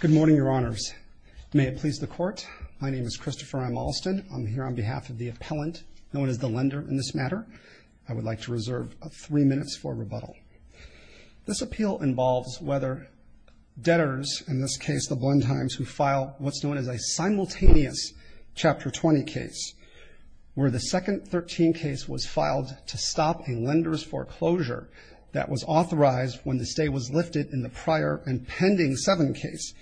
Good morning, Your Honors. May it please the Court, my name is Christopher M. Alston. I'm here on behalf of the appellant, known as the lender in this matter. I would like to reserve three minutes for rebuttal. This appeal involves whether debtors, in this case the Blendheims, who file what's known as a simultaneous Chapter 20 case, where the second 13 case was filed to stop a lender's foreclosure that was authorized when the stay was lifted in the prior and pending 7 case,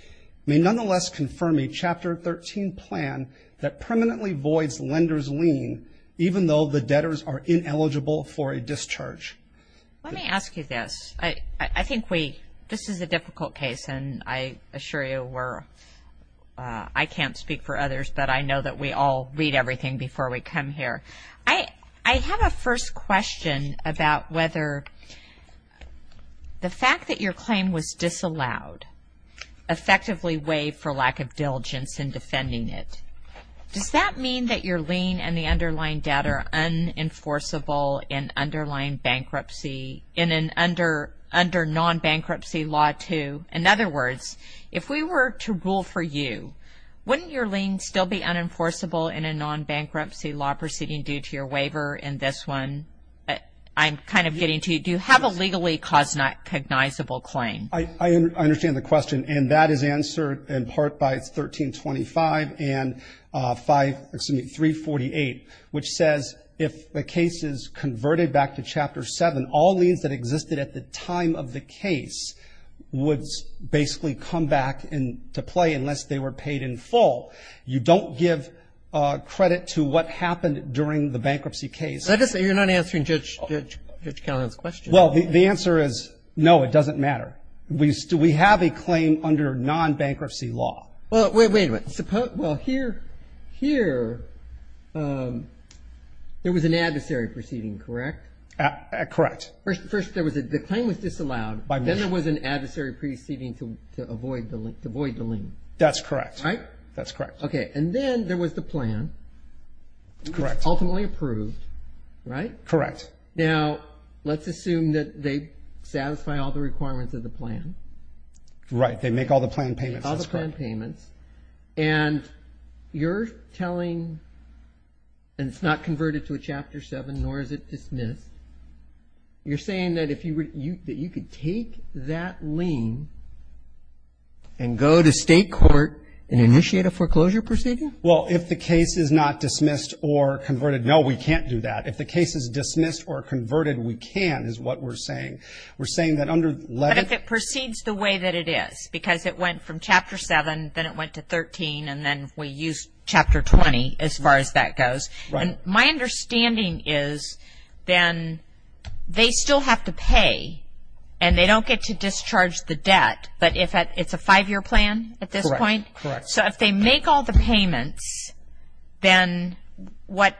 may nonetheless confirm a Chapter 13 plan that permanently voids lender's lien, even though the debtors are ineligible for a discharge. Let me ask you this. I think we, this is a difficult case and I assure you we're, I can't speak for others, but I know that we all read everything before we come here. I have a first question about whether the fact that your claim was disallowed effectively waived for lack of diligence in defending it. Does that mean that your lien and the underlying debt are unenforceable in underlying bankruptcy, in an under, under non-bankruptcy law too? In other words, if we were to rule for you, wouldn't your lien still be unenforceable in a non-bankruptcy law proceeding due to your waiver in this one? I'm kind of getting to you. Do you have a legally cognizable claim? I understand the question and that is answered in part by 1325 and 5, excuse me, 348, which says if the case is converted back to Chapter 7, all liens that existed at the time of the case would basically come back in to play unless they were paid in full. You don't give credit to what happened during the bankruptcy case. You're not answering Judge Callahan's question. Well, the answer is no, it doesn't matter. We have a claim under non-bankruptcy law. Well, wait a minute. Well, here, there was an adversary proceeding, correct? Correct. First, the claim was disallowed. Then there was an adversary proceeding to avoid the lien. That's correct. Right? That's correct. Okay. And then there was the plan. Correct. Ultimately approved. Right? Correct. Now, let's assume that they satisfy all the requirements of the plan. Right. They make all the plan payments. All the plan payments. And you're telling, and it's not converted to a Chapter 7, nor is it dismissed, you're saying that you could take that lien and go to state court and initiate a foreclosure proceeding? Well, if the case is not dismissed or converted, no, we can't do that. If the case is dismissed or converted, we can, is what we're saying. We're saying that under letter... But if it proceeds the way that it is, because it went from Chapter 7, then it went to 13, and then we used Chapter 20, as far as that goes... Right. And my understanding is then they still have to pay, and they don't get to discharge the debt, but it's a five-year plan at this point? Correct. Correct. So if they make all the payments, then what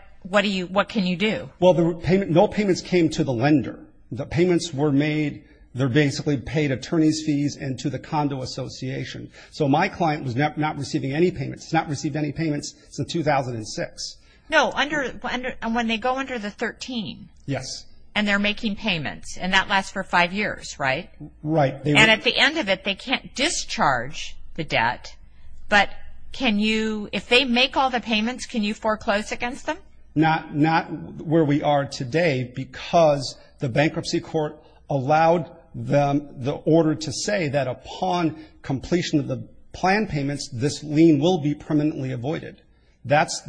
can you do? Well, no payments came to the lender. The payments were made, they're basically paid attorney's fees and to the condo association. So my client was not receiving any payments. He's not received any payments since 2006. No, and when they go under the 13... Yes. And they're making payments, and that lasts for five years, right? Right. And at the end of it, they can't discharge the debt, but can you, if they make all the payments, can you foreclose against them? Not where we are today, because the bankruptcy court allowed them the order to say that upon completion of the plan payments, this lien will be permanently avoided. That's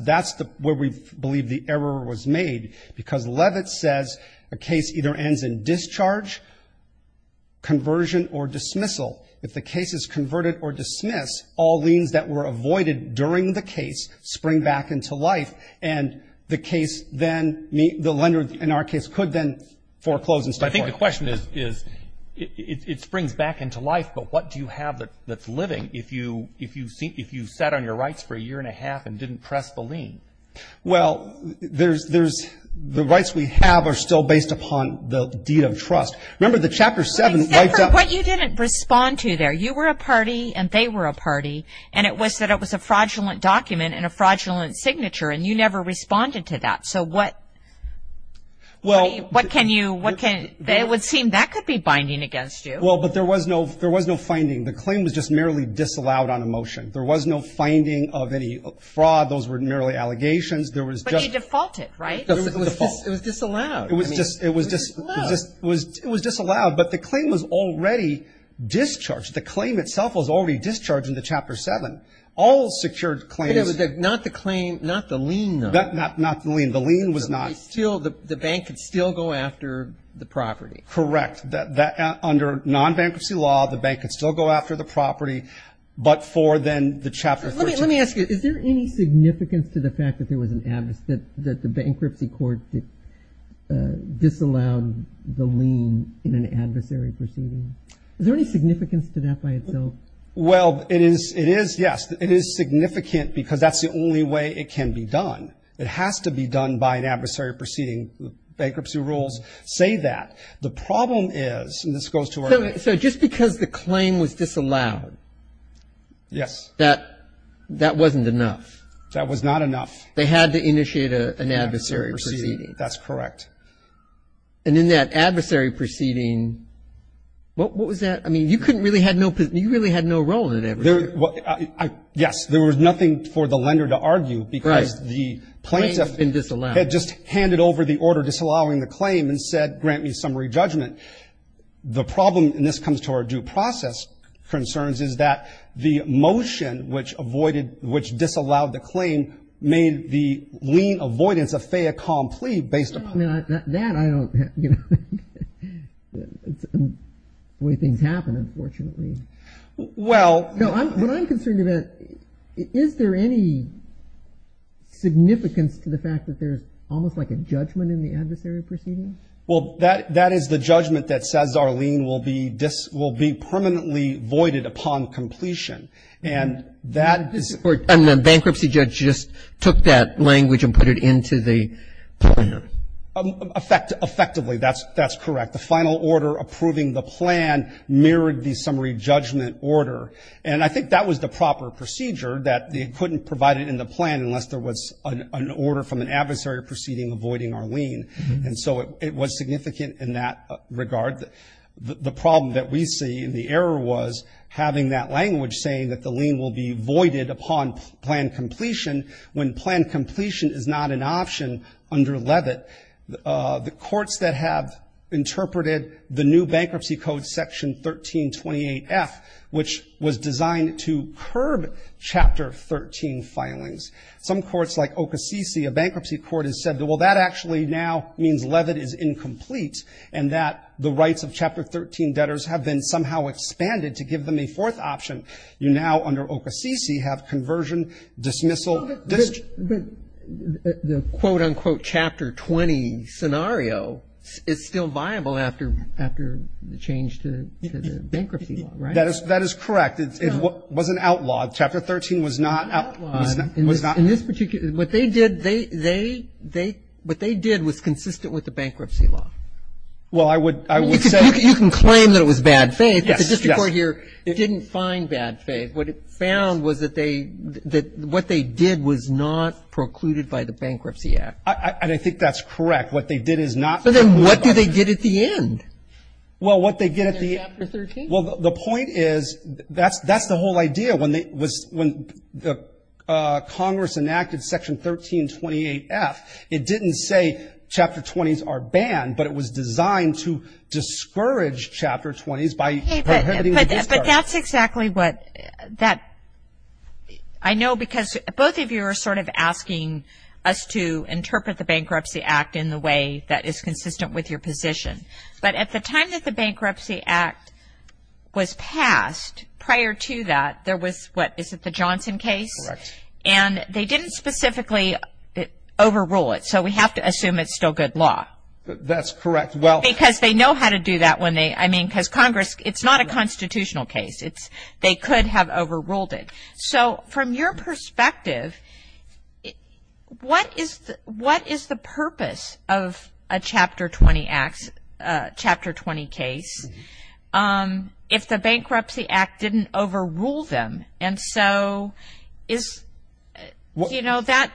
where we believe the error was made, because Levitt says a case either ends in discharge, conversion, or dismissal. If the case is converted or dismissed, all liens that were avoided during the case spring back into life, and the lender in our case could then foreclose instead. I think the question is, it springs back into life, but what do you have that's living if you sat on your rights for a year and a half and didn't press the lien? Well, the rights we have are still based upon the deed of trust. Except for what you didn't respond to there. You were a party, and they were a party, and it was that it was a fraudulent document and a fraudulent signature, and you never responded to that. So what can you... It would seem that could be binding against you. Well, but there was no finding. The claim was just merely disallowed on a motion. There was no finding of any fraud. Those were merely allegations. But you defaulted, right? It was disallowed. It was disallowed, but the claim was already discharged. The claim itself was already discharged in the Chapter 7. All secured claims... Not the lien, though. Not the lien. The lien was not... The bank could still go after the property. Correct. Under non-bankruptcy law, the bank could still go after the property, but for then the Chapter 13... Let me ask you, is there any significance to the fact that there was an... that the bankruptcy court disallowed the lien in an adversary proceeding? Is there any significance to that by itself? Well, it is, yes. It is significant because that's the only way it can be done. It has to be done by an adversary proceeding. Bankruptcy rules say that. The problem is, and this goes to our... So just because the claim was disallowed... Yes. That wasn't enough. That was not enough. They had to initiate an adversary proceeding. An adversary proceeding. That's correct. And in that adversary proceeding, what was that? I mean, you couldn't really have no... You really had no role in it. Yes. There was nothing for the lender to argue because the plaintiff... Right. The claim had been disallowed. ...had just handed over the order disallowing the claim and said, grant me summary judgment. The problem, and this comes to our due process concerns, is that the motion which avoided... which disallowed the claim made the lien avoidance a fait accompli based upon... Well, I mean, that I don't... Way things happen, unfortunately. Well... No, what I'm concerned about, is there any significance to the fact that there's almost like a judgment in the adversary proceeding? Well, that is the judgment that says our lien will be permanently voided upon completion. And that is... And the bankruptcy judge just took that language and put it into the plan. Effectively, that's correct. The final order approving the plan mirrored the summary judgment order. And I think that was the proper procedure, that it couldn't provide it in the plan unless there was an order from an adversary proceeding avoiding our lien. And so it was significant in that regard. The problem that we see, and the error was, having that language saying that the lien will be voided upon plan completion, when plan completion is not an option under Levitt. The courts that have interpreted the new bankruptcy code, Section 1328F, which was designed to curb Chapter 13 filings. Some courts, like Okasisi, a bankruptcy court, has said, well, that actually now means Levitt is incomplete, and that the rights of Chapter 13 debtors have been somehow expanded to give them a fourth option. You now, under Okasisi, have conversion, dismissal... But the quote-unquote Chapter 20 scenario is still viable after the change to the bankruptcy law, right? That is correct. It was an outlaw. Chapter 13 was not... What they did was consistent with the bankruptcy law. Well, I would say... You can claim that it was bad faith, but the district court here didn't find bad faith. What it found was that what they did was not precluded by the Bankruptcy Act. And I think that's correct. What they did is not precluded by... So then what do they get at the end? Well, what they get at the... Under Chapter 13? Well, the point is that's the whole idea. When Congress enacted Section 1328F, it didn't say Chapter 20s are banned, but it was designed to discourage Chapter 20s by prohibiting... But that's exactly what that... I know because both of you are sort of asking us to interpret the Bankruptcy Act in the way that is consistent with your position. But at the time that the Bankruptcy Act was passed, prior to that, there was what? Is it the Johnson case? Correct. And they didn't specifically overrule it, so we have to assume it's still good law. That's correct. Because they know how to do that when they... I mean, because Congress... It's not a constitutional case. They could have overruled it. So from your perspective, what is the purpose of a Chapter 20 case if the Bankruptcy Act didn't overrule them? And so is... You know, that...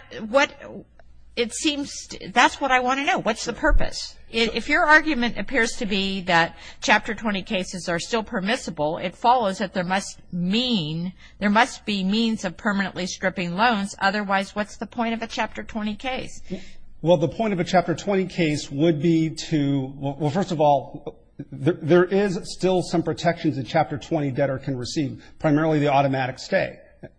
It seems... That's what I want to know. What's the purpose? If your argument appears to be that Chapter 20 cases are still permissible, it follows that there must mean... There must be means of permanently stripping loans. Otherwise, what's the point of a Chapter 20 case? Well, the point of a Chapter 20 case would be to... Well, first of all, there is still some protections a Chapter 20 debtor can receive, primarily the automatic stay.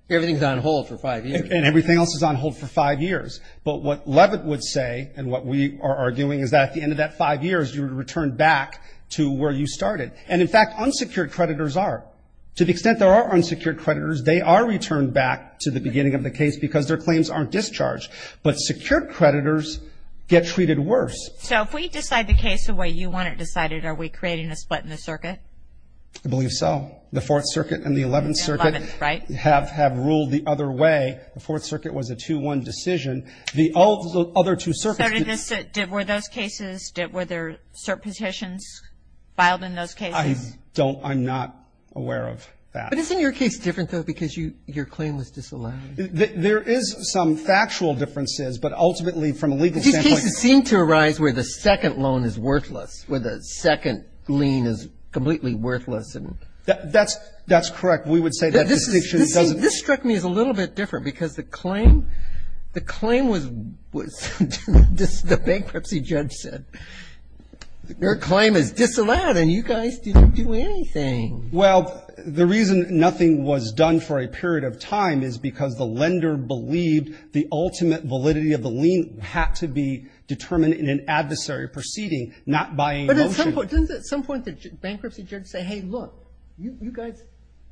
Everything's on hold for five years. And everything else is on hold for five years. But what Leavitt would say and what we are arguing is that at the end of that five years, you would return back to where you started. And, in fact, unsecured creditors are. To the extent there are unsecured creditors, they are returned back to the beginning of the case because their claims aren't discharged. But secured creditors get treated worse. So if we decide the case the way you want it decided, are we creating a split in the circuit? I believe so. The Fourth Circuit and the Eleventh Circuit have ruled the other way. The Fourth Circuit was a 2-1 decision. The other two circuits... Were those cases, were there cert petitions filed in those cases? I'm not aware of that. But isn't your case different, though, because your claim was disallowed? There is some factual differences, but ultimately from a legal standpoint... These cases seem to arise where the second loan is worthless, where the second lien is completely worthless. That's correct. We would say that distinction doesn't... The bankruptcy judge said, your claim is disallowed and you guys didn't do anything. Well, the reason nothing was done for a period of time is because the lender believed the ultimate validity of the lien had to be determined in an adversary proceeding, not by a motion. But at some point, didn't the bankruptcy judge say, hey, look, you guys,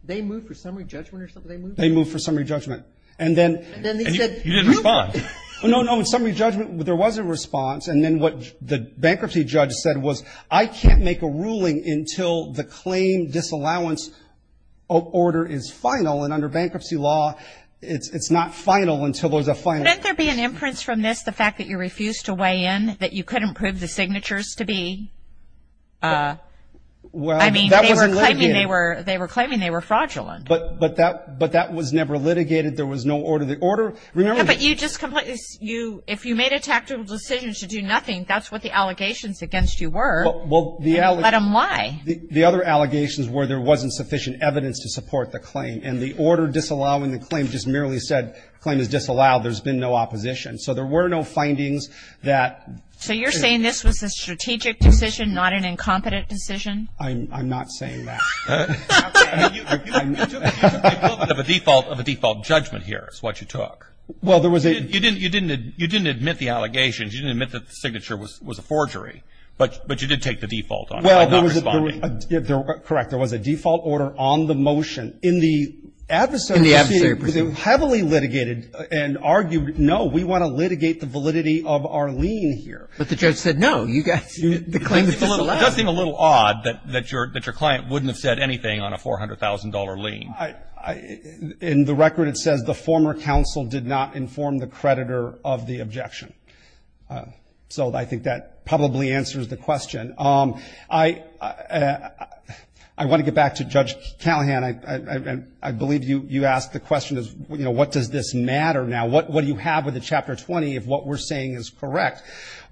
they moved for summary judgment or something? They moved for summary judgment. And then he said... You didn't respond. No, no, in summary judgment, there was a response. And then what the bankruptcy judge said was, I can't make a ruling until the claim disallowance order is final. And under bankruptcy law, it's not final until there's a final... Couldn't there be an inference from this, the fact that you refused to weigh in, that you couldn't prove the signatures to be... I mean, they were claiming they were fraudulent. But that was never litigated. There was no order. Remember... But you just completely... If you made a tactical decision to do nothing, that's what the allegations against you were. Well, the... Let them lie. The other allegations were there wasn't sufficient evidence to support the claim. And the order disallowing the claim just merely said, claim is disallowed, there's been no opposition. So there were no findings that... So you're saying this was a strategic decision, not an incompetent decision? I'm not saying that. I mean, you took a little bit of a default judgment here is what you took. Well, there was a... You didn't admit the allegations. You didn't admit that the signature was a forgery. But you did take the default on it by not responding. Correct. There was a default order on the motion. In the adversary proceeding, it was heavily litigated and argued, no, we want to litigate the validity of our lien here. But the judge said, no, the claim is disallowed. It does seem a little odd that your client wouldn't have said anything on a $400,000 lien. In the record, it says the former counsel did not inform the creditor of the objection. So I think that probably answers the question. I want to get back to Judge Callahan. I believe you asked the question, you know, what does this matter now? What do you have with the Chapter 20 if what we're saying is correct?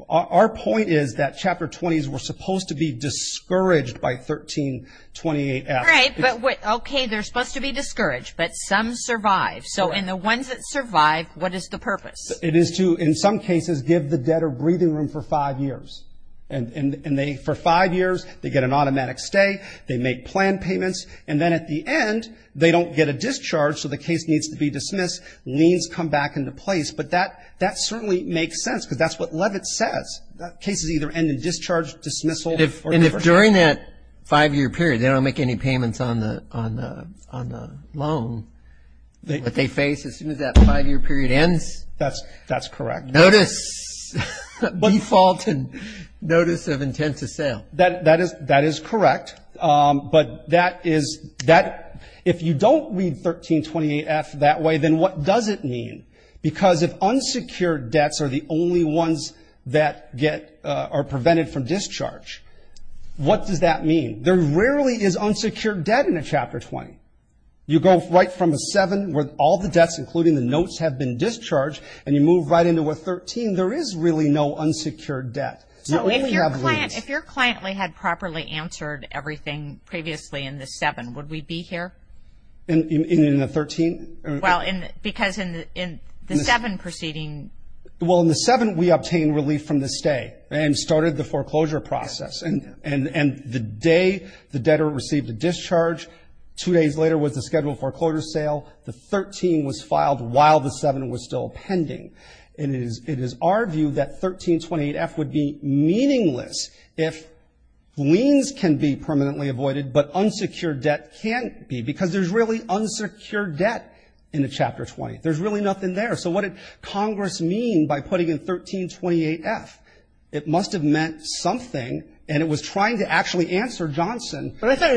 Our point is that Chapter 20s were supposed to be discouraged by 1328F. Right, but, okay, they're supposed to be discouraged, but some survived. So in the ones that survived, what is the purpose? It is to, in some cases, give the debtor breathing room for five years. And for five years, they get an automatic stay, they make plan payments, and then at the end, they don't get a discharge, so the case needs to be dismissed, liens come back into place. But that certainly makes sense because that's what Levitt says. Cases either end in discharge, dismissal, or defer. And if during that five-year period they don't make any payments on the loan, what they face as soon as that five-year period ends? That's correct. Notice default and notice of intent to sale. That is correct. But that is, if you don't read 1328F that way, then what does it mean? Because if unsecured debts are the only ones that are prevented from discharge, what does that mean? There rarely is unsecured debt in a Chapter 20. You go right from a seven where all the debts, including the notes, have been discharged, and you move right into a 13, there is really no unsecured debt. So if your client had properly answered everything previously in the seven, would we be here? In the 13? Well, because in the seven proceeding. Well, in the seven we obtained relief from the stay and started the foreclosure process. And the day the debtor received a discharge, two days later was the scheduled foreclosure sale. The 13 was filed while the seven was still pending. And it is our view that 1328F would be meaningless if liens can be permanently avoided but unsecured debt can't be because there's really unsecured debt in the Chapter 20. There's really nothing there. So what did Congress mean by putting in 1328F? It must have meant something, and it was trying to actually answer Johnson. But I thought,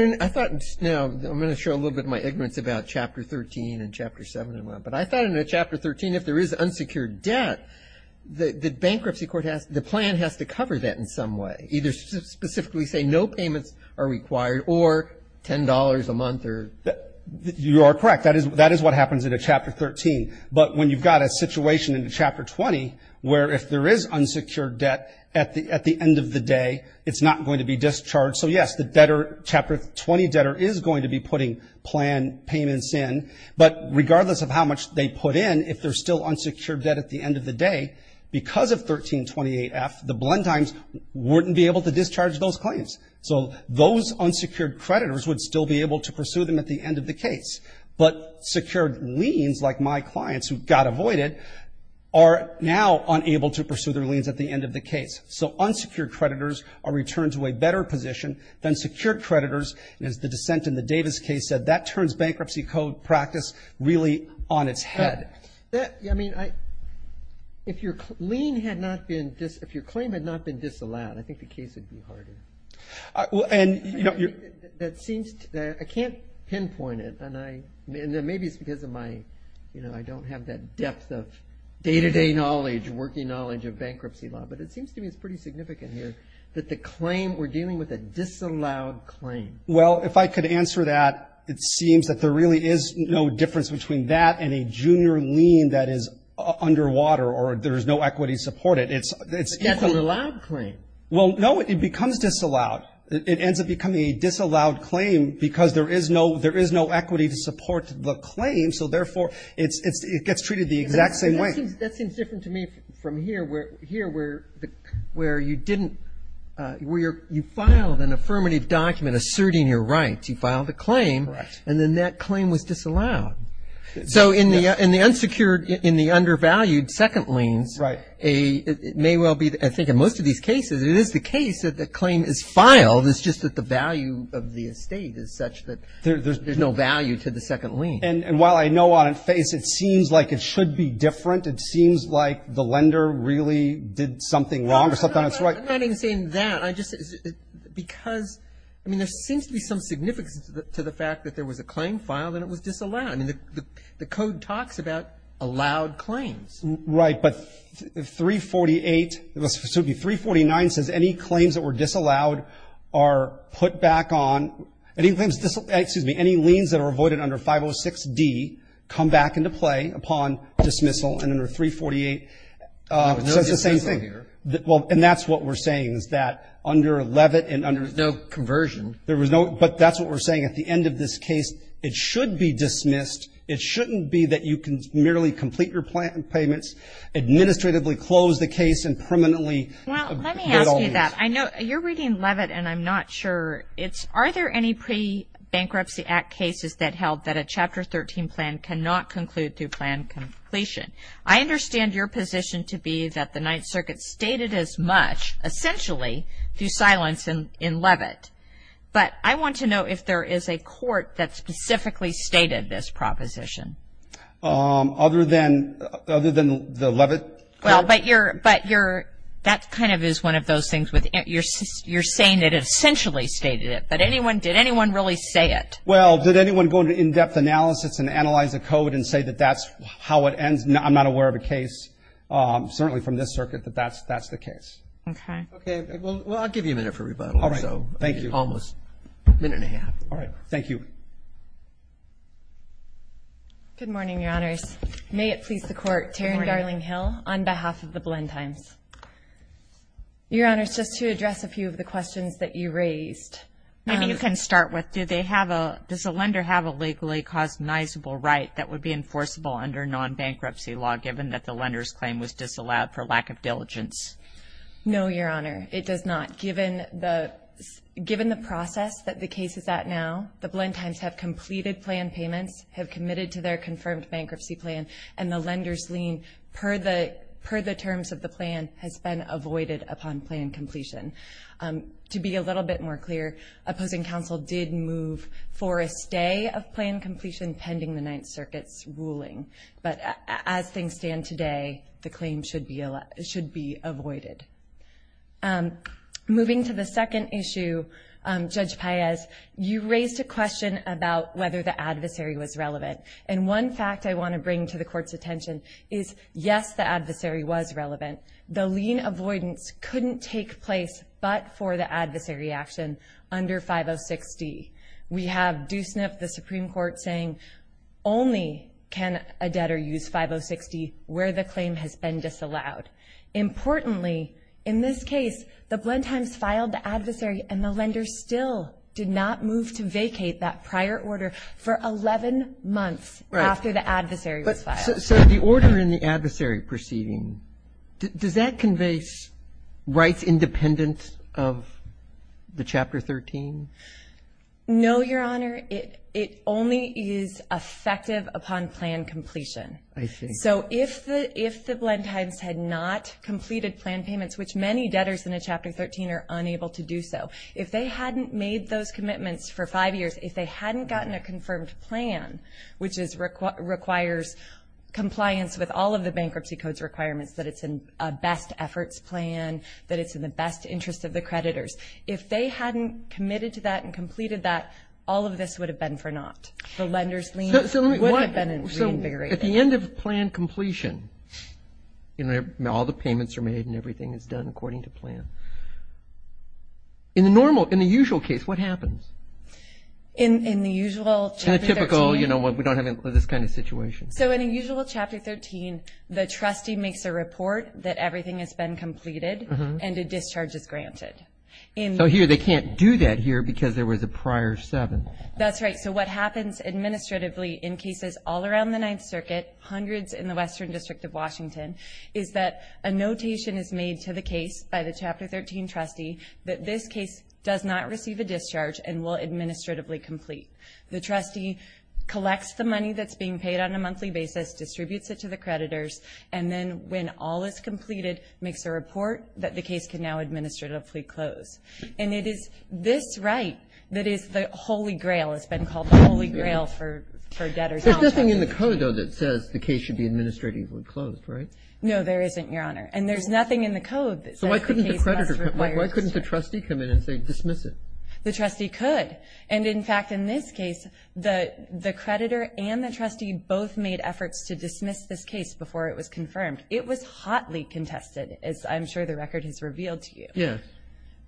you know, I'm going to show a little bit of my ignorance about Chapter 13 and Chapter 7, but I thought in Chapter 13 if there is unsecured debt, the bankruptcy court has to, the plan has to cover that in some way, either specifically say no payments are required or $10 a month or. You are correct. That is what happens in a Chapter 13. But when you've got a situation in Chapter 20 where if there is unsecured debt at the end of the day, it's not going to be discharged. So, yes, the debtor, Chapter 20 debtor is going to be putting plan payments in. But regardless of how much they put in, if there's still unsecured debt at the end of the day, because of 1328F, the Blend Times wouldn't be able to discharge those claims. So those unsecured creditors would still be able to pursue them at the end of the case. But secured liens, like my clients who got avoided, are now unable to pursue their liens at the end of the case. So unsecured creditors are returned to a better position than secured creditors, and as the dissent in the Davis case said, that turns bankruptcy code practice really on its head. I mean, if your claim had not been disallowed, I think the case would be harder. I can't pinpoint it, and maybe it's because I don't have that depth of day-to-day knowledge, working knowledge of bankruptcy law, but it seems to me it's pretty significant here that we're dealing with a disallowed claim. Well, if I could answer that, it seems that there really is no difference between that and a junior lien that is underwater or there is no equity to support it. That's an allowed claim. Well, no, it becomes disallowed. It ends up becoming a disallowed claim because there is no equity to support the claim, so therefore it gets treated the exact same way. That seems different to me from here, where you filed an affirmative document asserting your rights. You filed a claim, and then that claim was disallowed. So in the unsecured, in the undervalued second liens, it may well be, I think in most of these cases, it is the case that the claim is filed. It's just that the value of the estate is such that there's no value to the second lien. And while I know on face it seems like it should be different, it seems like the lender really did something wrong or something that's right. I'm not even saying that. Because, I mean, there seems to be some significance to the fact that there was a claim filed and it was disallowed. I mean, the code talks about allowed claims. Right. But 348, so 349 says any claims that were disallowed are put back on, excuse me, any liens that are avoided under 506D come back into play upon dismissal. And under 348, it says the same thing. Well, and that's what we're saying is that under Levitt and under... There was no conversion. But that's what we're saying. At the end of this case, it should be dismissed. It shouldn't be that you can merely complete your payments, administratively close the case and permanently... Well, let me ask you that. I know you're reading Levitt and I'm not sure. Are there any pre-bankruptcy act cases that held that a Chapter 13 plan cannot conclude to plan completion? I understand your position to be that the Ninth Circuit stated as much, essentially, through silence in Levitt. But I want to know if there is a court that specifically stated this proposition. Other than the Levitt... Well, but that kind of is one of those things where you're saying it essentially stated it. But did anyone really say it? Well, did anyone go into in-depth analysis and analyze the code and say that that's how it ends? I'm not aware of a case, certainly from this circuit, that that's the case. Okay. Okay. Well, I'll give you a minute for rebuttal. All right. Thank you. Almost a minute and a half. All right. Thank you. Good morning, Your Honors. May it please the Court. Good morning. Taryn Darling-Hill on behalf of the Blend Times. Your Honors, just to address a few of the questions that you raised. Maybe you can start with. Does a lender have a legally cognizable right that would be enforceable under non-bankruptcy law given that the lender's claim was disallowed for lack of diligence? No, Your Honor. It does not. Given the process that the case is at now, the Blend Times have completed plan payments, have committed to their confirmed bankruptcy plan, and the lender's lien per the terms of the plan has been avoided upon plan completion. To be a little bit more clear, opposing counsel did move for a stay of plan completion pending the Ninth Circuit's ruling. But as things stand today, the claim should be avoided. Moving to the second issue, Judge Paez, you raised a question about whether the adversary was relevant. And one fact I want to bring to the Court's attention is, yes, the adversary was relevant. The lien avoidance couldn't take place but for the adversary action under 5060. We have Doosnip, the Supreme Court, saying only can a debtor use 5060 where the claim has been disallowed. Importantly, in this case, the Blend Times filed the adversary, and the lender still did not move to vacate that prior order for 11 months after the adversary was filed. So the order in the adversary proceeding, does that convey rights independent of the Chapter 13? No, Your Honor. It only is effective upon plan completion. I see. So if the Blend Times had not completed plan payments, which many debtors in a Chapter 13 are unable to do so, if they hadn't made those commitments for five years, if they hadn't gotten a confirmed plan, which requires compliance with all of the Bankruptcy Code's requirements that it's in a best efforts plan, that it's in the best interest of the creditors, if they hadn't committed to that and completed that, all of this would have been for naught. The lender's lien would have been reinvigorated. So at the end of plan completion, all the payments are made and everything is done according to plan. In the normal, in the usual case, what happens? In the usual Chapter 13. In a typical, you know, we don't have this kind of situation. So in a usual Chapter 13, the trustee makes a report that everything has been completed and a discharge is granted. So here they can't do that here because there was a prior 7. That's right. So what happens administratively in cases all around the Ninth Circuit, hundreds in the Western District of Washington, is that a notation is made to the case by the Chapter 13 trustee that this case does not receive a discharge and will administratively complete. The trustee collects the money that's being paid on a monthly basis, distributes it to the creditors, and then when all is completed, makes a report that the case can now administratively close. And it is this right that is the holy grail. It's been called the holy grail for debtors. There's nothing in the code, though, that says the case should be administratively closed, right? No, there isn't, Your Honor. And there's nothing in the code that says the case must require discharge. So why couldn't the trustee come in and say dismiss it? The trustee could. And, in fact, in this case, the creditor and the trustee both made efforts to dismiss this case before it was confirmed. It was hotly contested, as I'm sure the record has revealed to you. Yes.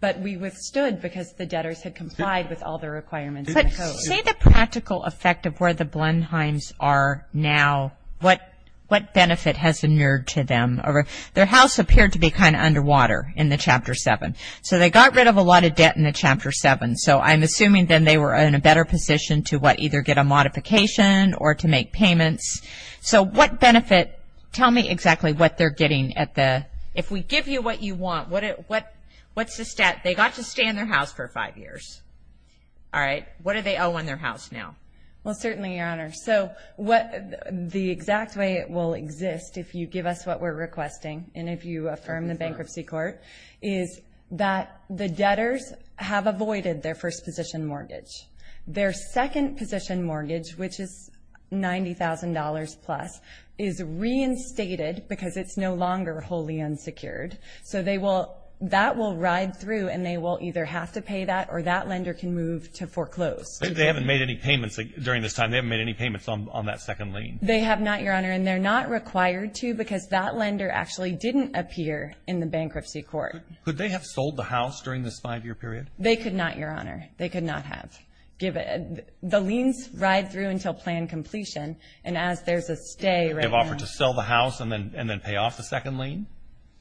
But we withstood because the debtors had complied with all the requirements in the code. But say the practical effect of where the Blenheims are now, what benefit has emerged to them? Their house appeared to be kind of underwater in the Chapter 7. So they got rid of a lot of debt in the Chapter 7. So I'm assuming then they were in a better position to, what, either get a modification or to make payments. So what benefit? Tell me exactly what they're getting. If we give you what you want, what's the stat? They got to stay in their house for five years. All right? What do they owe in their house now? Well, certainly, Your Honor. So the exact way it will exist, if you give us what we're requesting, and if you affirm the bankruptcy court, is that the debtors have avoided their first-position mortgage. Their second-position mortgage, which is $90,000-plus, is reinstated because it's no longer wholly unsecured. So that will ride through, and they will either have to pay that, or that lender can move to foreclose. They haven't made any payments during this time. They haven't made any payments on that second lien. They have not, Your Honor. And they're not required to because that lender actually didn't appear in the bankruptcy court. Could they have sold the house during this five-year period? They could not, Your Honor. They could not have. The liens ride through until plan completion, and as there's a stay right now. They've offered to sell the house and then pay off the second lien?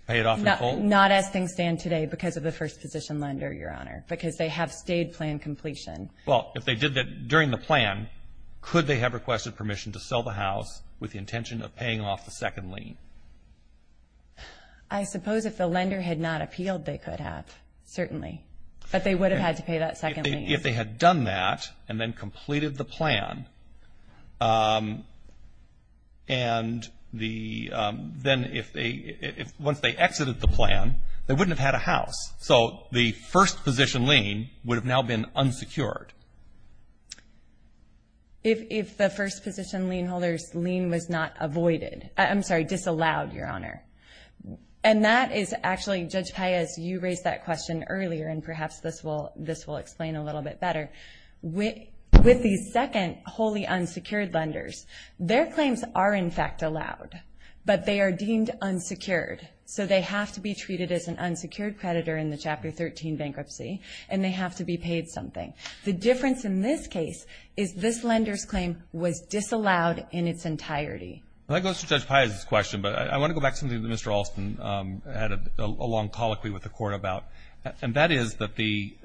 Pay it off in full? Not as things stand today because of the first-position lender, Your Honor, because they have stayed plan completion. Well, if they did that during the plan, could they have requested permission to sell the house with the intention of paying off the second lien? I suppose if the lender had not appealed, they could have, certainly. But they would have had to pay that second lien. If they had done that and then completed the plan, and then once they exited the plan, they wouldn't have had a house. So the first-position lien would have now been unsecured. If the first-position lien holder's lien was not avoided, I'm sorry, disallowed, Your Honor. And that is actually, Judge Paez, you raised that question earlier, and perhaps this will explain a little bit better. With the second wholly unsecured lenders, their claims are, in fact, allowed, but they are deemed unsecured. So they have to be treated as an unsecured creditor in the Chapter 13 bankruptcy, and they have to be paid something. The difference in this case is this lender's claim was disallowed in its entirety. That goes to Judge Paez's question, but I want to go back to something that Mr. Alston had a long colloquy with the Court about. And that is that the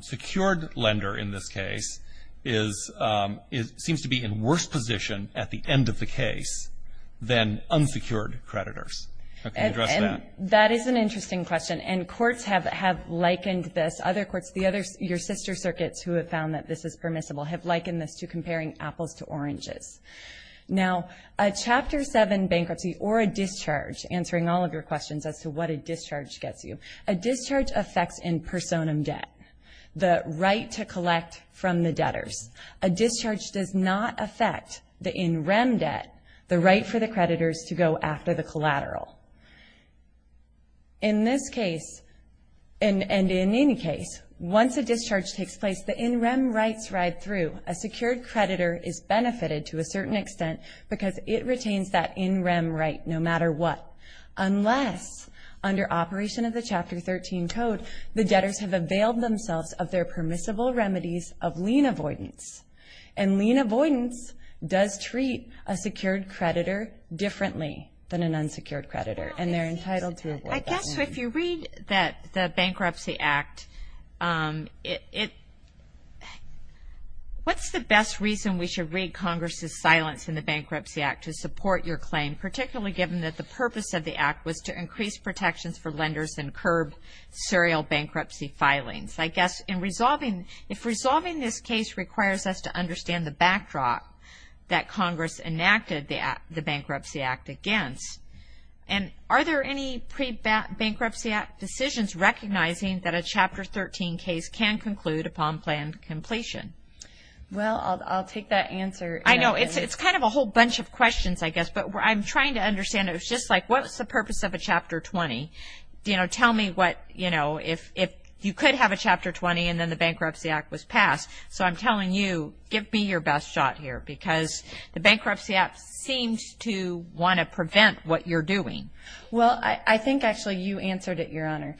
secured lender in this case seems to be in worse position at the end of the case than unsecured creditors. Can you address that? And that is an interesting question, and courts have likened this. Other courts, your sister circuits who have found that this is permissible, have likened this to comparing apples to oranges. Now, a Chapter 7 bankruptcy or a discharge, answering all of your questions as to what a discharge gets you, a discharge affects in personam debt, the right to collect from the debtors. A discharge does not affect the in rem debt, the right for the creditors to go after the collateral. In this case, and in any case, once a discharge takes place, the in rem rights ride through. A secured creditor is benefited to a certain extent because it retains that in rem right no matter what. Unless, under Operation of the Chapter 13 Code, the debtors have availed themselves of their permissible remedies of lien avoidance. And lien avoidance does treat a secured creditor differently than an unsecured creditor, and they're entitled to avoid that. So if you read the Bankruptcy Act, what's the best reason we should read Congress' silence in the Bankruptcy Act to support your claim, particularly given that the purpose of the act was to increase protections for lenders and curb serial bankruptcy filings? I guess in resolving, if resolving this case requires us to understand the backdrop that Congress enacted the Bankruptcy Act against, and are there any pre-bankruptcy act decisions recognizing that a Chapter 13 case can conclude upon planned completion? Well, I'll take that answer. I know, it's kind of a whole bunch of questions, I guess, but I'm trying to understand. It was just like, what's the purpose of a Chapter 20? You know, tell me what, you know, if you could have a Chapter 20 and then the Bankruptcy Act was passed. So I'm telling you, give me your best shot here, because the Bankruptcy Act seems to want to prevent what you're doing. Well, I think, actually, you answered it, Your Honor.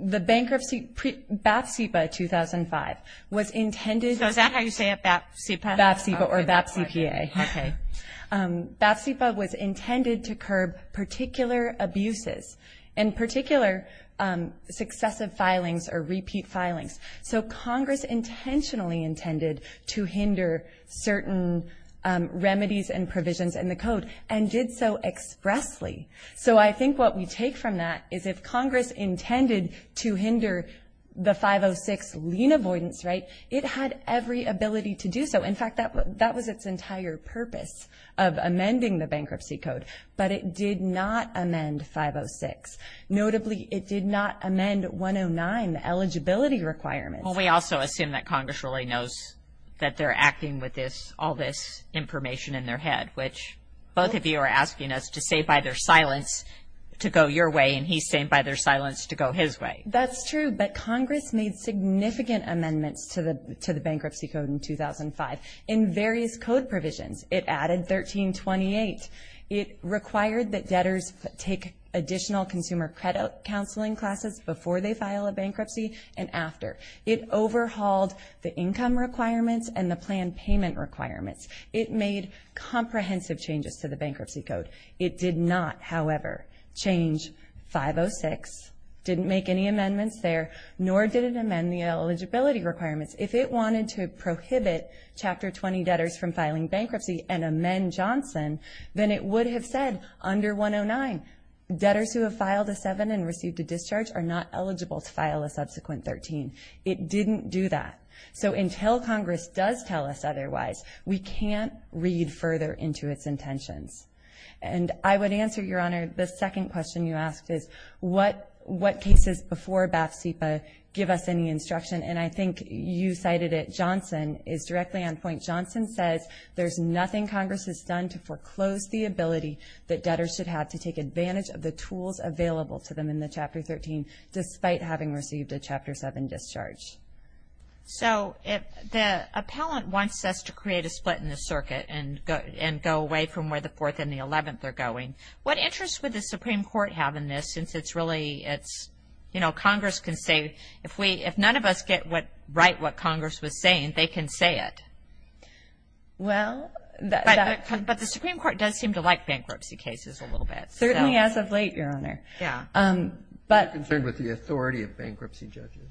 The Bankruptcy, BAPSIPA 2005 was intended. So is that how you say it, BAPSIPA? BAPSIPA or BAPSIPA. Okay. BAPSIPA was intended to curb particular abuses and particular successive filings or repeat filings. So Congress intentionally intended to hinder certain remedies and provisions in the Code and did so expressly. So I think what we take from that is if Congress intended to hinder the 506 lien avoidance, right, it had every ability to do so. In fact, that was its entire purpose of amending the Bankruptcy Code, but it did not amend 506. Notably, it did not amend 109, the eligibility requirements. Well, we also assume that Congress really knows that they're acting with all this information in their head, which both of you are asking us to say by their silence to go your way, and he's saying by their silence to go his way. That's true, but Congress made significant amendments to the Bankruptcy Code in 2005 in various code provisions. It added 1328. It required that debtors take additional consumer credit counseling classes before they file a bankruptcy and after. It overhauled the income requirements and the planned payment requirements. It made comprehensive changes to the Bankruptcy Code. It did not, however, change 506, didn't make any amendments there, nor did it amend the eligibility requirements. If it wanted to prohibit Chapter 20 debtors from filing bankruptcy and amend Johnson, then it would have said under 109, debtors who have filed a 7 and received a discharge are not eligible to file a subsequent 13. It didn't do that. So until Congress does tell us otherwise, we can't read further into its intentions. And I would answer, Your Honor, the second question you asked is what cases before BAF-CIPA give us any instruction, and I think you cited it, Johnson is directly on point. Johnson says there's nothing Congress has done to foreclose the ability that debtors should have to take advantage of the tools available to them in the Chapter 13 despite having received a Chapter 7 discharge. So if the appellant wants us to create a split in the circuit and go away from where the 4th and the 11th are going, what interest would the Supreme Court have in this since it's really, it's, you know, Congress can say if we, if none of us get what, right, what Congress was saying, they can say it. Well, but the Supreme Court does seem to like bankruptcy cases a little bit. Certainly as of late, Your Honor. Yeah. But. Are you concerned with the authority of bankruptcy judges?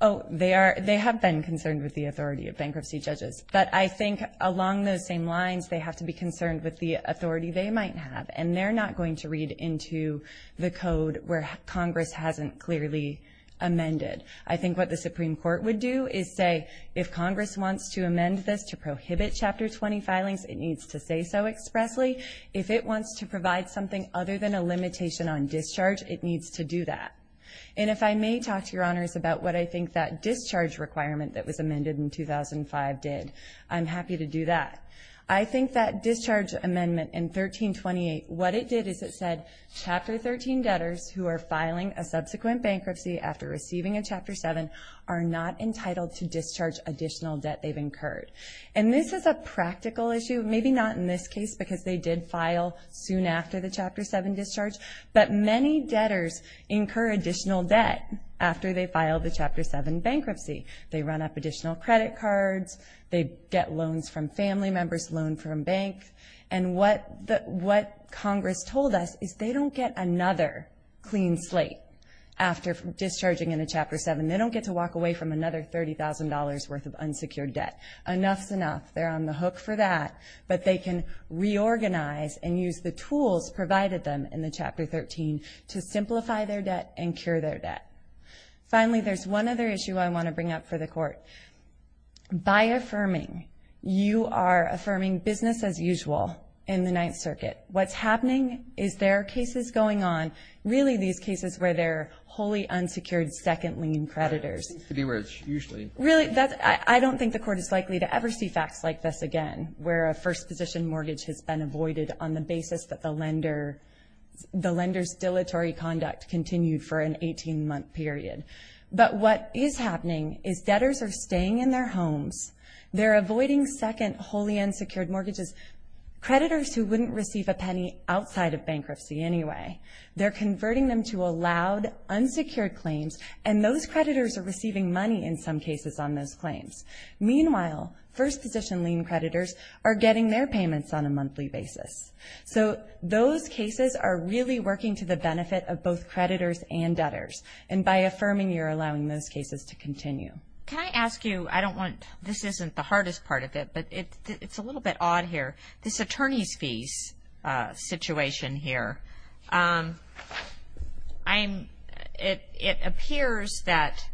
Oh, they are, they have been concerned with the authority of bankruptcy judges. But I think along those same lines, they have to be concerned with the authority they might have. And they're not going to read into the code where Congress hasn't clearly amended. I think what the Supreme Court would do is say if Congress wants to amend this to prohibit Chapter 20 filings, it needs to say so expressly. If it wants to provide something other than a limitation on discharge, it needs to do that. And if I may talk to Your Honors about what I think that discharge requirement that was amended in 2005 did, I'm happy to do that. I think that discharge amendment in 1328, what it did is it said Chapter 13 debtors who are filing a subsequent bankruptcy after receiving a Chapter 7 are not entitled to discharge additional debt they've incurred. And this is a practical issue, maybe not in this case because they did file soon after the Chapter 7 discharge, but many debtors incur additional debt after they file the Chapter 7 bankruptcy. They run up additional credit cards. They get loans from family members, loan from banks. And what Congress told us is they don't get another clean slate after discharging in a Chapter 7. They don't get to walk away from another $30,000 worth of unsecured debt. Enough's enough. They're on the hook for that. But they can reorganize and use the tools provided them in the Chapter 13 to simplify their debt and cure their debt. Finally, there's one other issue I want to bring up for the Court. By affirming, you are affirming business as usual in the Ninth Circuit. What's happening is there are cases going on, really these cases where they're wholly unsecured second lien creditors. It seems to be where it's usually. Really, I don't think the Court is likely to ever see facts like this again, where a first position mortgage has been avoided on the basis that the lender's dilatory conduct continued for an 18-month period. But what is happening is debtors are staying in their homes. They're avoiding second wholly unsecured mortgages, creditors who wouldn't receive a penny outside of bankruptcy anyway. They're converting them to allowed unsecured claims, and those creditors are receiving money in some cases on those claims. Meanwhile, first position lien creditors are getting their payments on a monthly basis. So those cases are really working to the benefit of both creditors and debtors. And by affirming, you're allowing those cases to continue. Can I ask you, I don't want, this isn't the hardest part of it, but it's a little bit odd here. This attorney's fees situation here, it appears that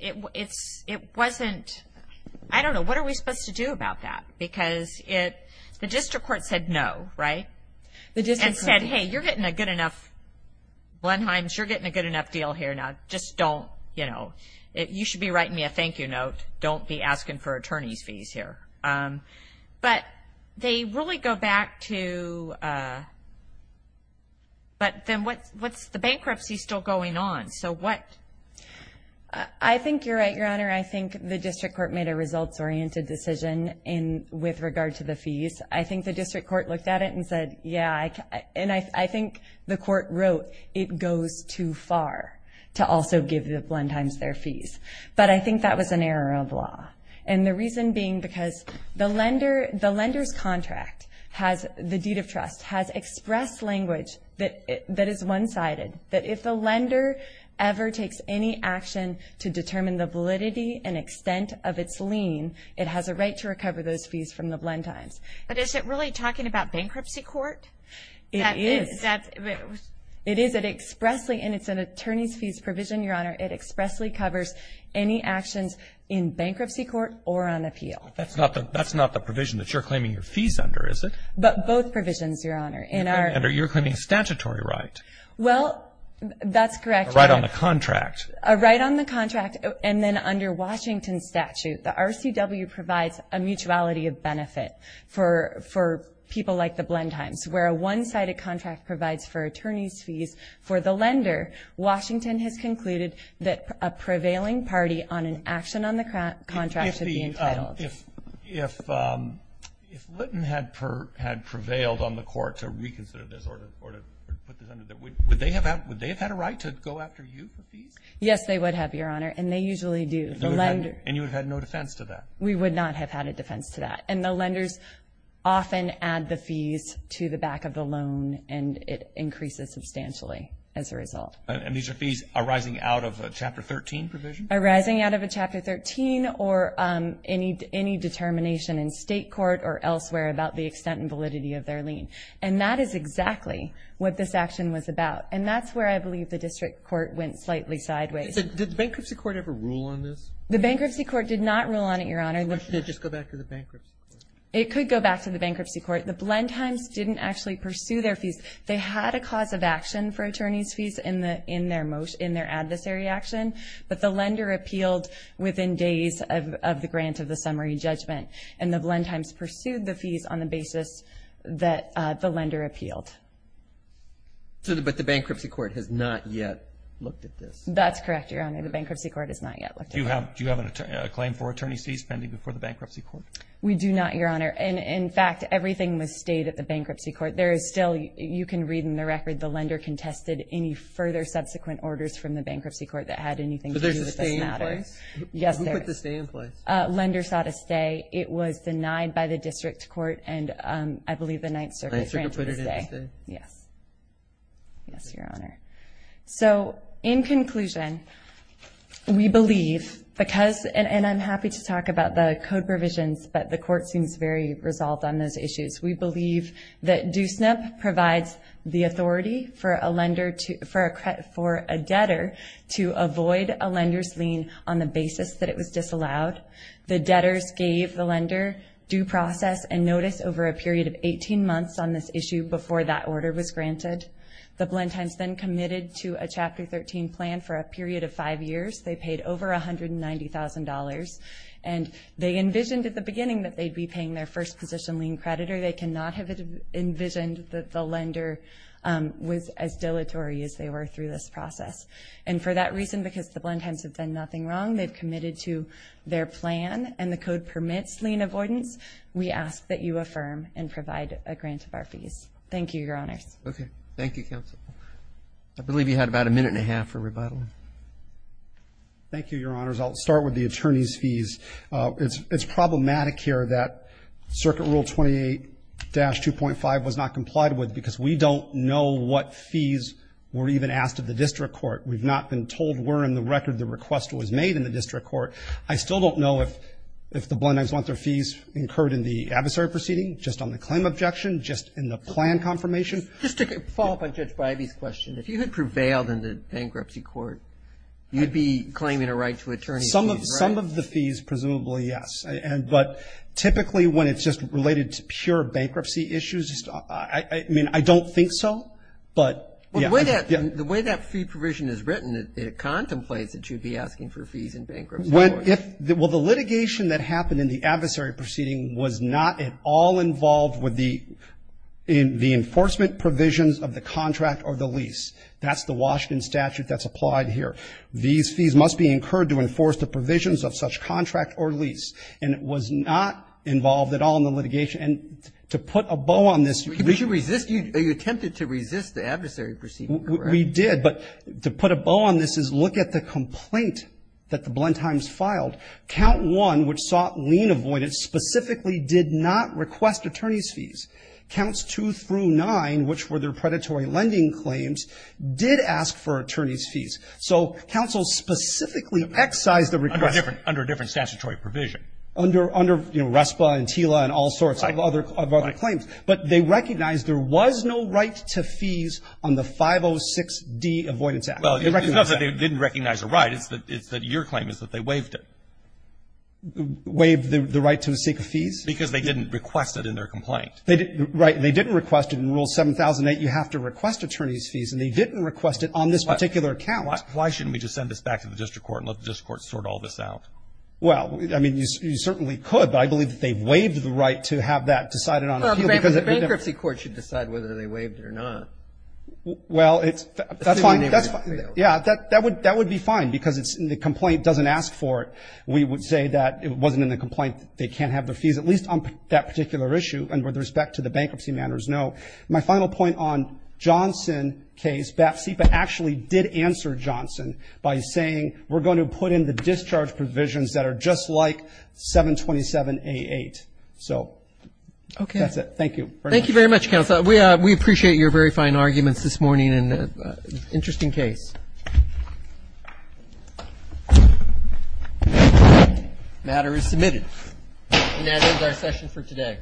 it wasn't, I don't know, what are we supposed to do about that? Because the district court said no, right? And said, hey, you're getting a good enough, Blenheims, you're getting a good enough deal here now, just don't, you know, write me a thank you note, don't be asking for attorney's fees here. But they really go back to, but then what's the bankruptcy still going on? So what? I think you're right, Your Honor. I think the district court made a results-oriented decision with regard to the fees. I think the district court looked at it and said, yeah, and I think the court wrote it goes too far to also give the Blenheims their fees. But I think that was an error of law. And the reason being because the lender's contract has, the deed of trust has expressed language that is one-sided, that if the lender ever takes any action to determine the validity and extent of its lien, it has a right to recover those fees from the Blenheims. But is it really talking about bankruptcy court? It is. And it's an attorney's fees provision, Your Honor. It expressly covers any actions in bankruptcy court or on appeal. That's not the provision that you're claiming your fees under, is it? But both provisions, Your Honor. You're claiming a statutory right. Well, that's correct. A right on the contract. A right on the contract. And then under Washington's statute, the RCW provides a mutuality of benefit for people like the Blenheims, where a one-sided contract provides for attorney's fees for the lender. Washington has concluded that a prevailing party on an action on the contract should be entitled. If Litton had prevailed on the court to reconsider this or to put this under there, would they have had a right to go after you for fees? Yes, they would have, Your Honor, and they usually do. And you would have had no defense to that? We would not have had a defense to that. And the lenders often add the fees to the back of the loan, and it increases substantially as a result. And these are fees arising out of a Chapter 13 provision? Arising out of a Chapter 13 or any determination in state court or elsewhere about the extent and validity of their lien. And that is exactly what this action was about, and that's where I believe the district court went slightly sideways. Did the bankruptcy court ever rule on this? The bankruptcy court did not rule on it, Your Honor. Just go back to the bankruptcy court. It could go back to the bankruptcy court. The Blendheims didn't actually pursue their fees. They had a cause of action for attorney's fees in their adversary action, but the lender appealed within days of the grant of the summary judgment, and the Blendheims pursued the fees on the basis that the lender appealed. But the bankruptcy court has not yet looked at this? The bankruptcy court has not yet looked at this. Do you have a claim for attorney's fees pending before the bankruptcy court? We do not, Your Honor. And, in fact, everything was stayed at the bankruptcy court. There is still, you can read in the record, the lender contested any further subsequent orders from the bankruptcy court that had anything to do with this matter. But there's a stay in place? Yes, there is. Who put the stay in place? Lender sought a stay. It was denied by the district court, and I believe the Ninth Circuit granted a stay. Yes. Yes, Your Honor. So, in conclusion, we believe because, and I'm happy to talk about the code provisions, but the court seems very resolved on those issues. We believe that Do SNP provides the authority for a debtor to avoid a lender's lien on the basis that it was disallowed. The debtors gave the lender due process and notice over a period of 18 months on this issue before that order was granted. The Blend Times then committed to a Chapter 13 plan for a period of five years. They paid over $190,000, and they envisioned at the beginning that they'd be paying their first position lien creditor. They cannot have envisioned that the lender was as dilatory as they were through this process. And for that reason, because the Blend Times have done nothing wrong, they've committed to their plan, and the code permits lien avoidance. We ask that you affirm and provide a grant of our fees. Thank you, Your Honors. Okay. Thank you, Counsel. I believe you had about a minute and a half for rebuttal. Thank you, Your Honors. I'll start with the attorney's fees. It's problematic here that Circuit Rule 28-2.5 was not complied with because we don't know what fees were even asked of the district court. We've not been told where in the record the request was made in the district court. I still don't know if the Blend Times want their fees incurred in the adversary proceeding, just on the claim objection, just in the plan confirmation. Just to follow up on Judge Bybee's question, if you had prevailed in the bankruptcy court, you'd be claiming a right to attorney's fees, right? Some of the fees, presumably, yes. But typically, when it's just related to pure bankruptcy issues, I mean, I don't think so. But, yeah. The way that fee provision is written, it contemplates that you'd be asking for fees in bankruptcy court. Well, the litigation that happened in the adversary proceeding was not at all involved with the enforcement provisions of the contract or the lease. That's the Washington statute that's applied here. These fees must be incurred to enforce the provisions of such contract or lease. And it was not involved at all in the litigation. And to put a bow on this, you could resist. You attempted to resist the adversary proceeding, correct? We did. But to put a bow on this is look at the complaint that the Blendtimes filed. Count 1, which sought lien avoidance, specifically did not request attorney's fees. Counts 2 through 9, which were their predatory lending claims, did ask for attorney's fees. So, counsel specifically excised the request. Under a different statutory provision. Under RESPA and TILA and all sorts of other claims. But they recognized there was no right to fees on the 506D Avoidance Act. Well, it's not that they didn't recognize a right. It's that your claim is that they waived it. Waived the right to seek fees? Because they didn't request it in their complaint. Right. They didn't request it in Rule 7008. You have to request attorney's fees. And they didn't request it on this particular account. Why shouldn't we just send this back to the district court and let the district court sort all this out? Well, I mean, you certainly could. But I believe that they waived the right to have that decided on appeal. Well, the bankruptcy court should decide whether they waived it or not. Well, it's. That's fine. That's fine. Yeah, that would be fine. Because the complaint doesn't ask for it. We would say that it wasn't in the complaint. They can't have the fees. At least on that particular issue. And with respect to the bankruptcy matters, no. My final point on Johnson case. BAF CIPA actually did answer Johnson by saying we're going to put in the discharge provisions that are just like 727A8. So. Okay. That's it. Thank you. Thank you very much, counsel. We appreciate your very fine arguments this morning. And interesting case. The matter is submitted. And that ends our session for today. Thank you. Thank you. Thank you. Thank you. Thank you. Thank you. Thank you. Thank you. Thank you. Thank you.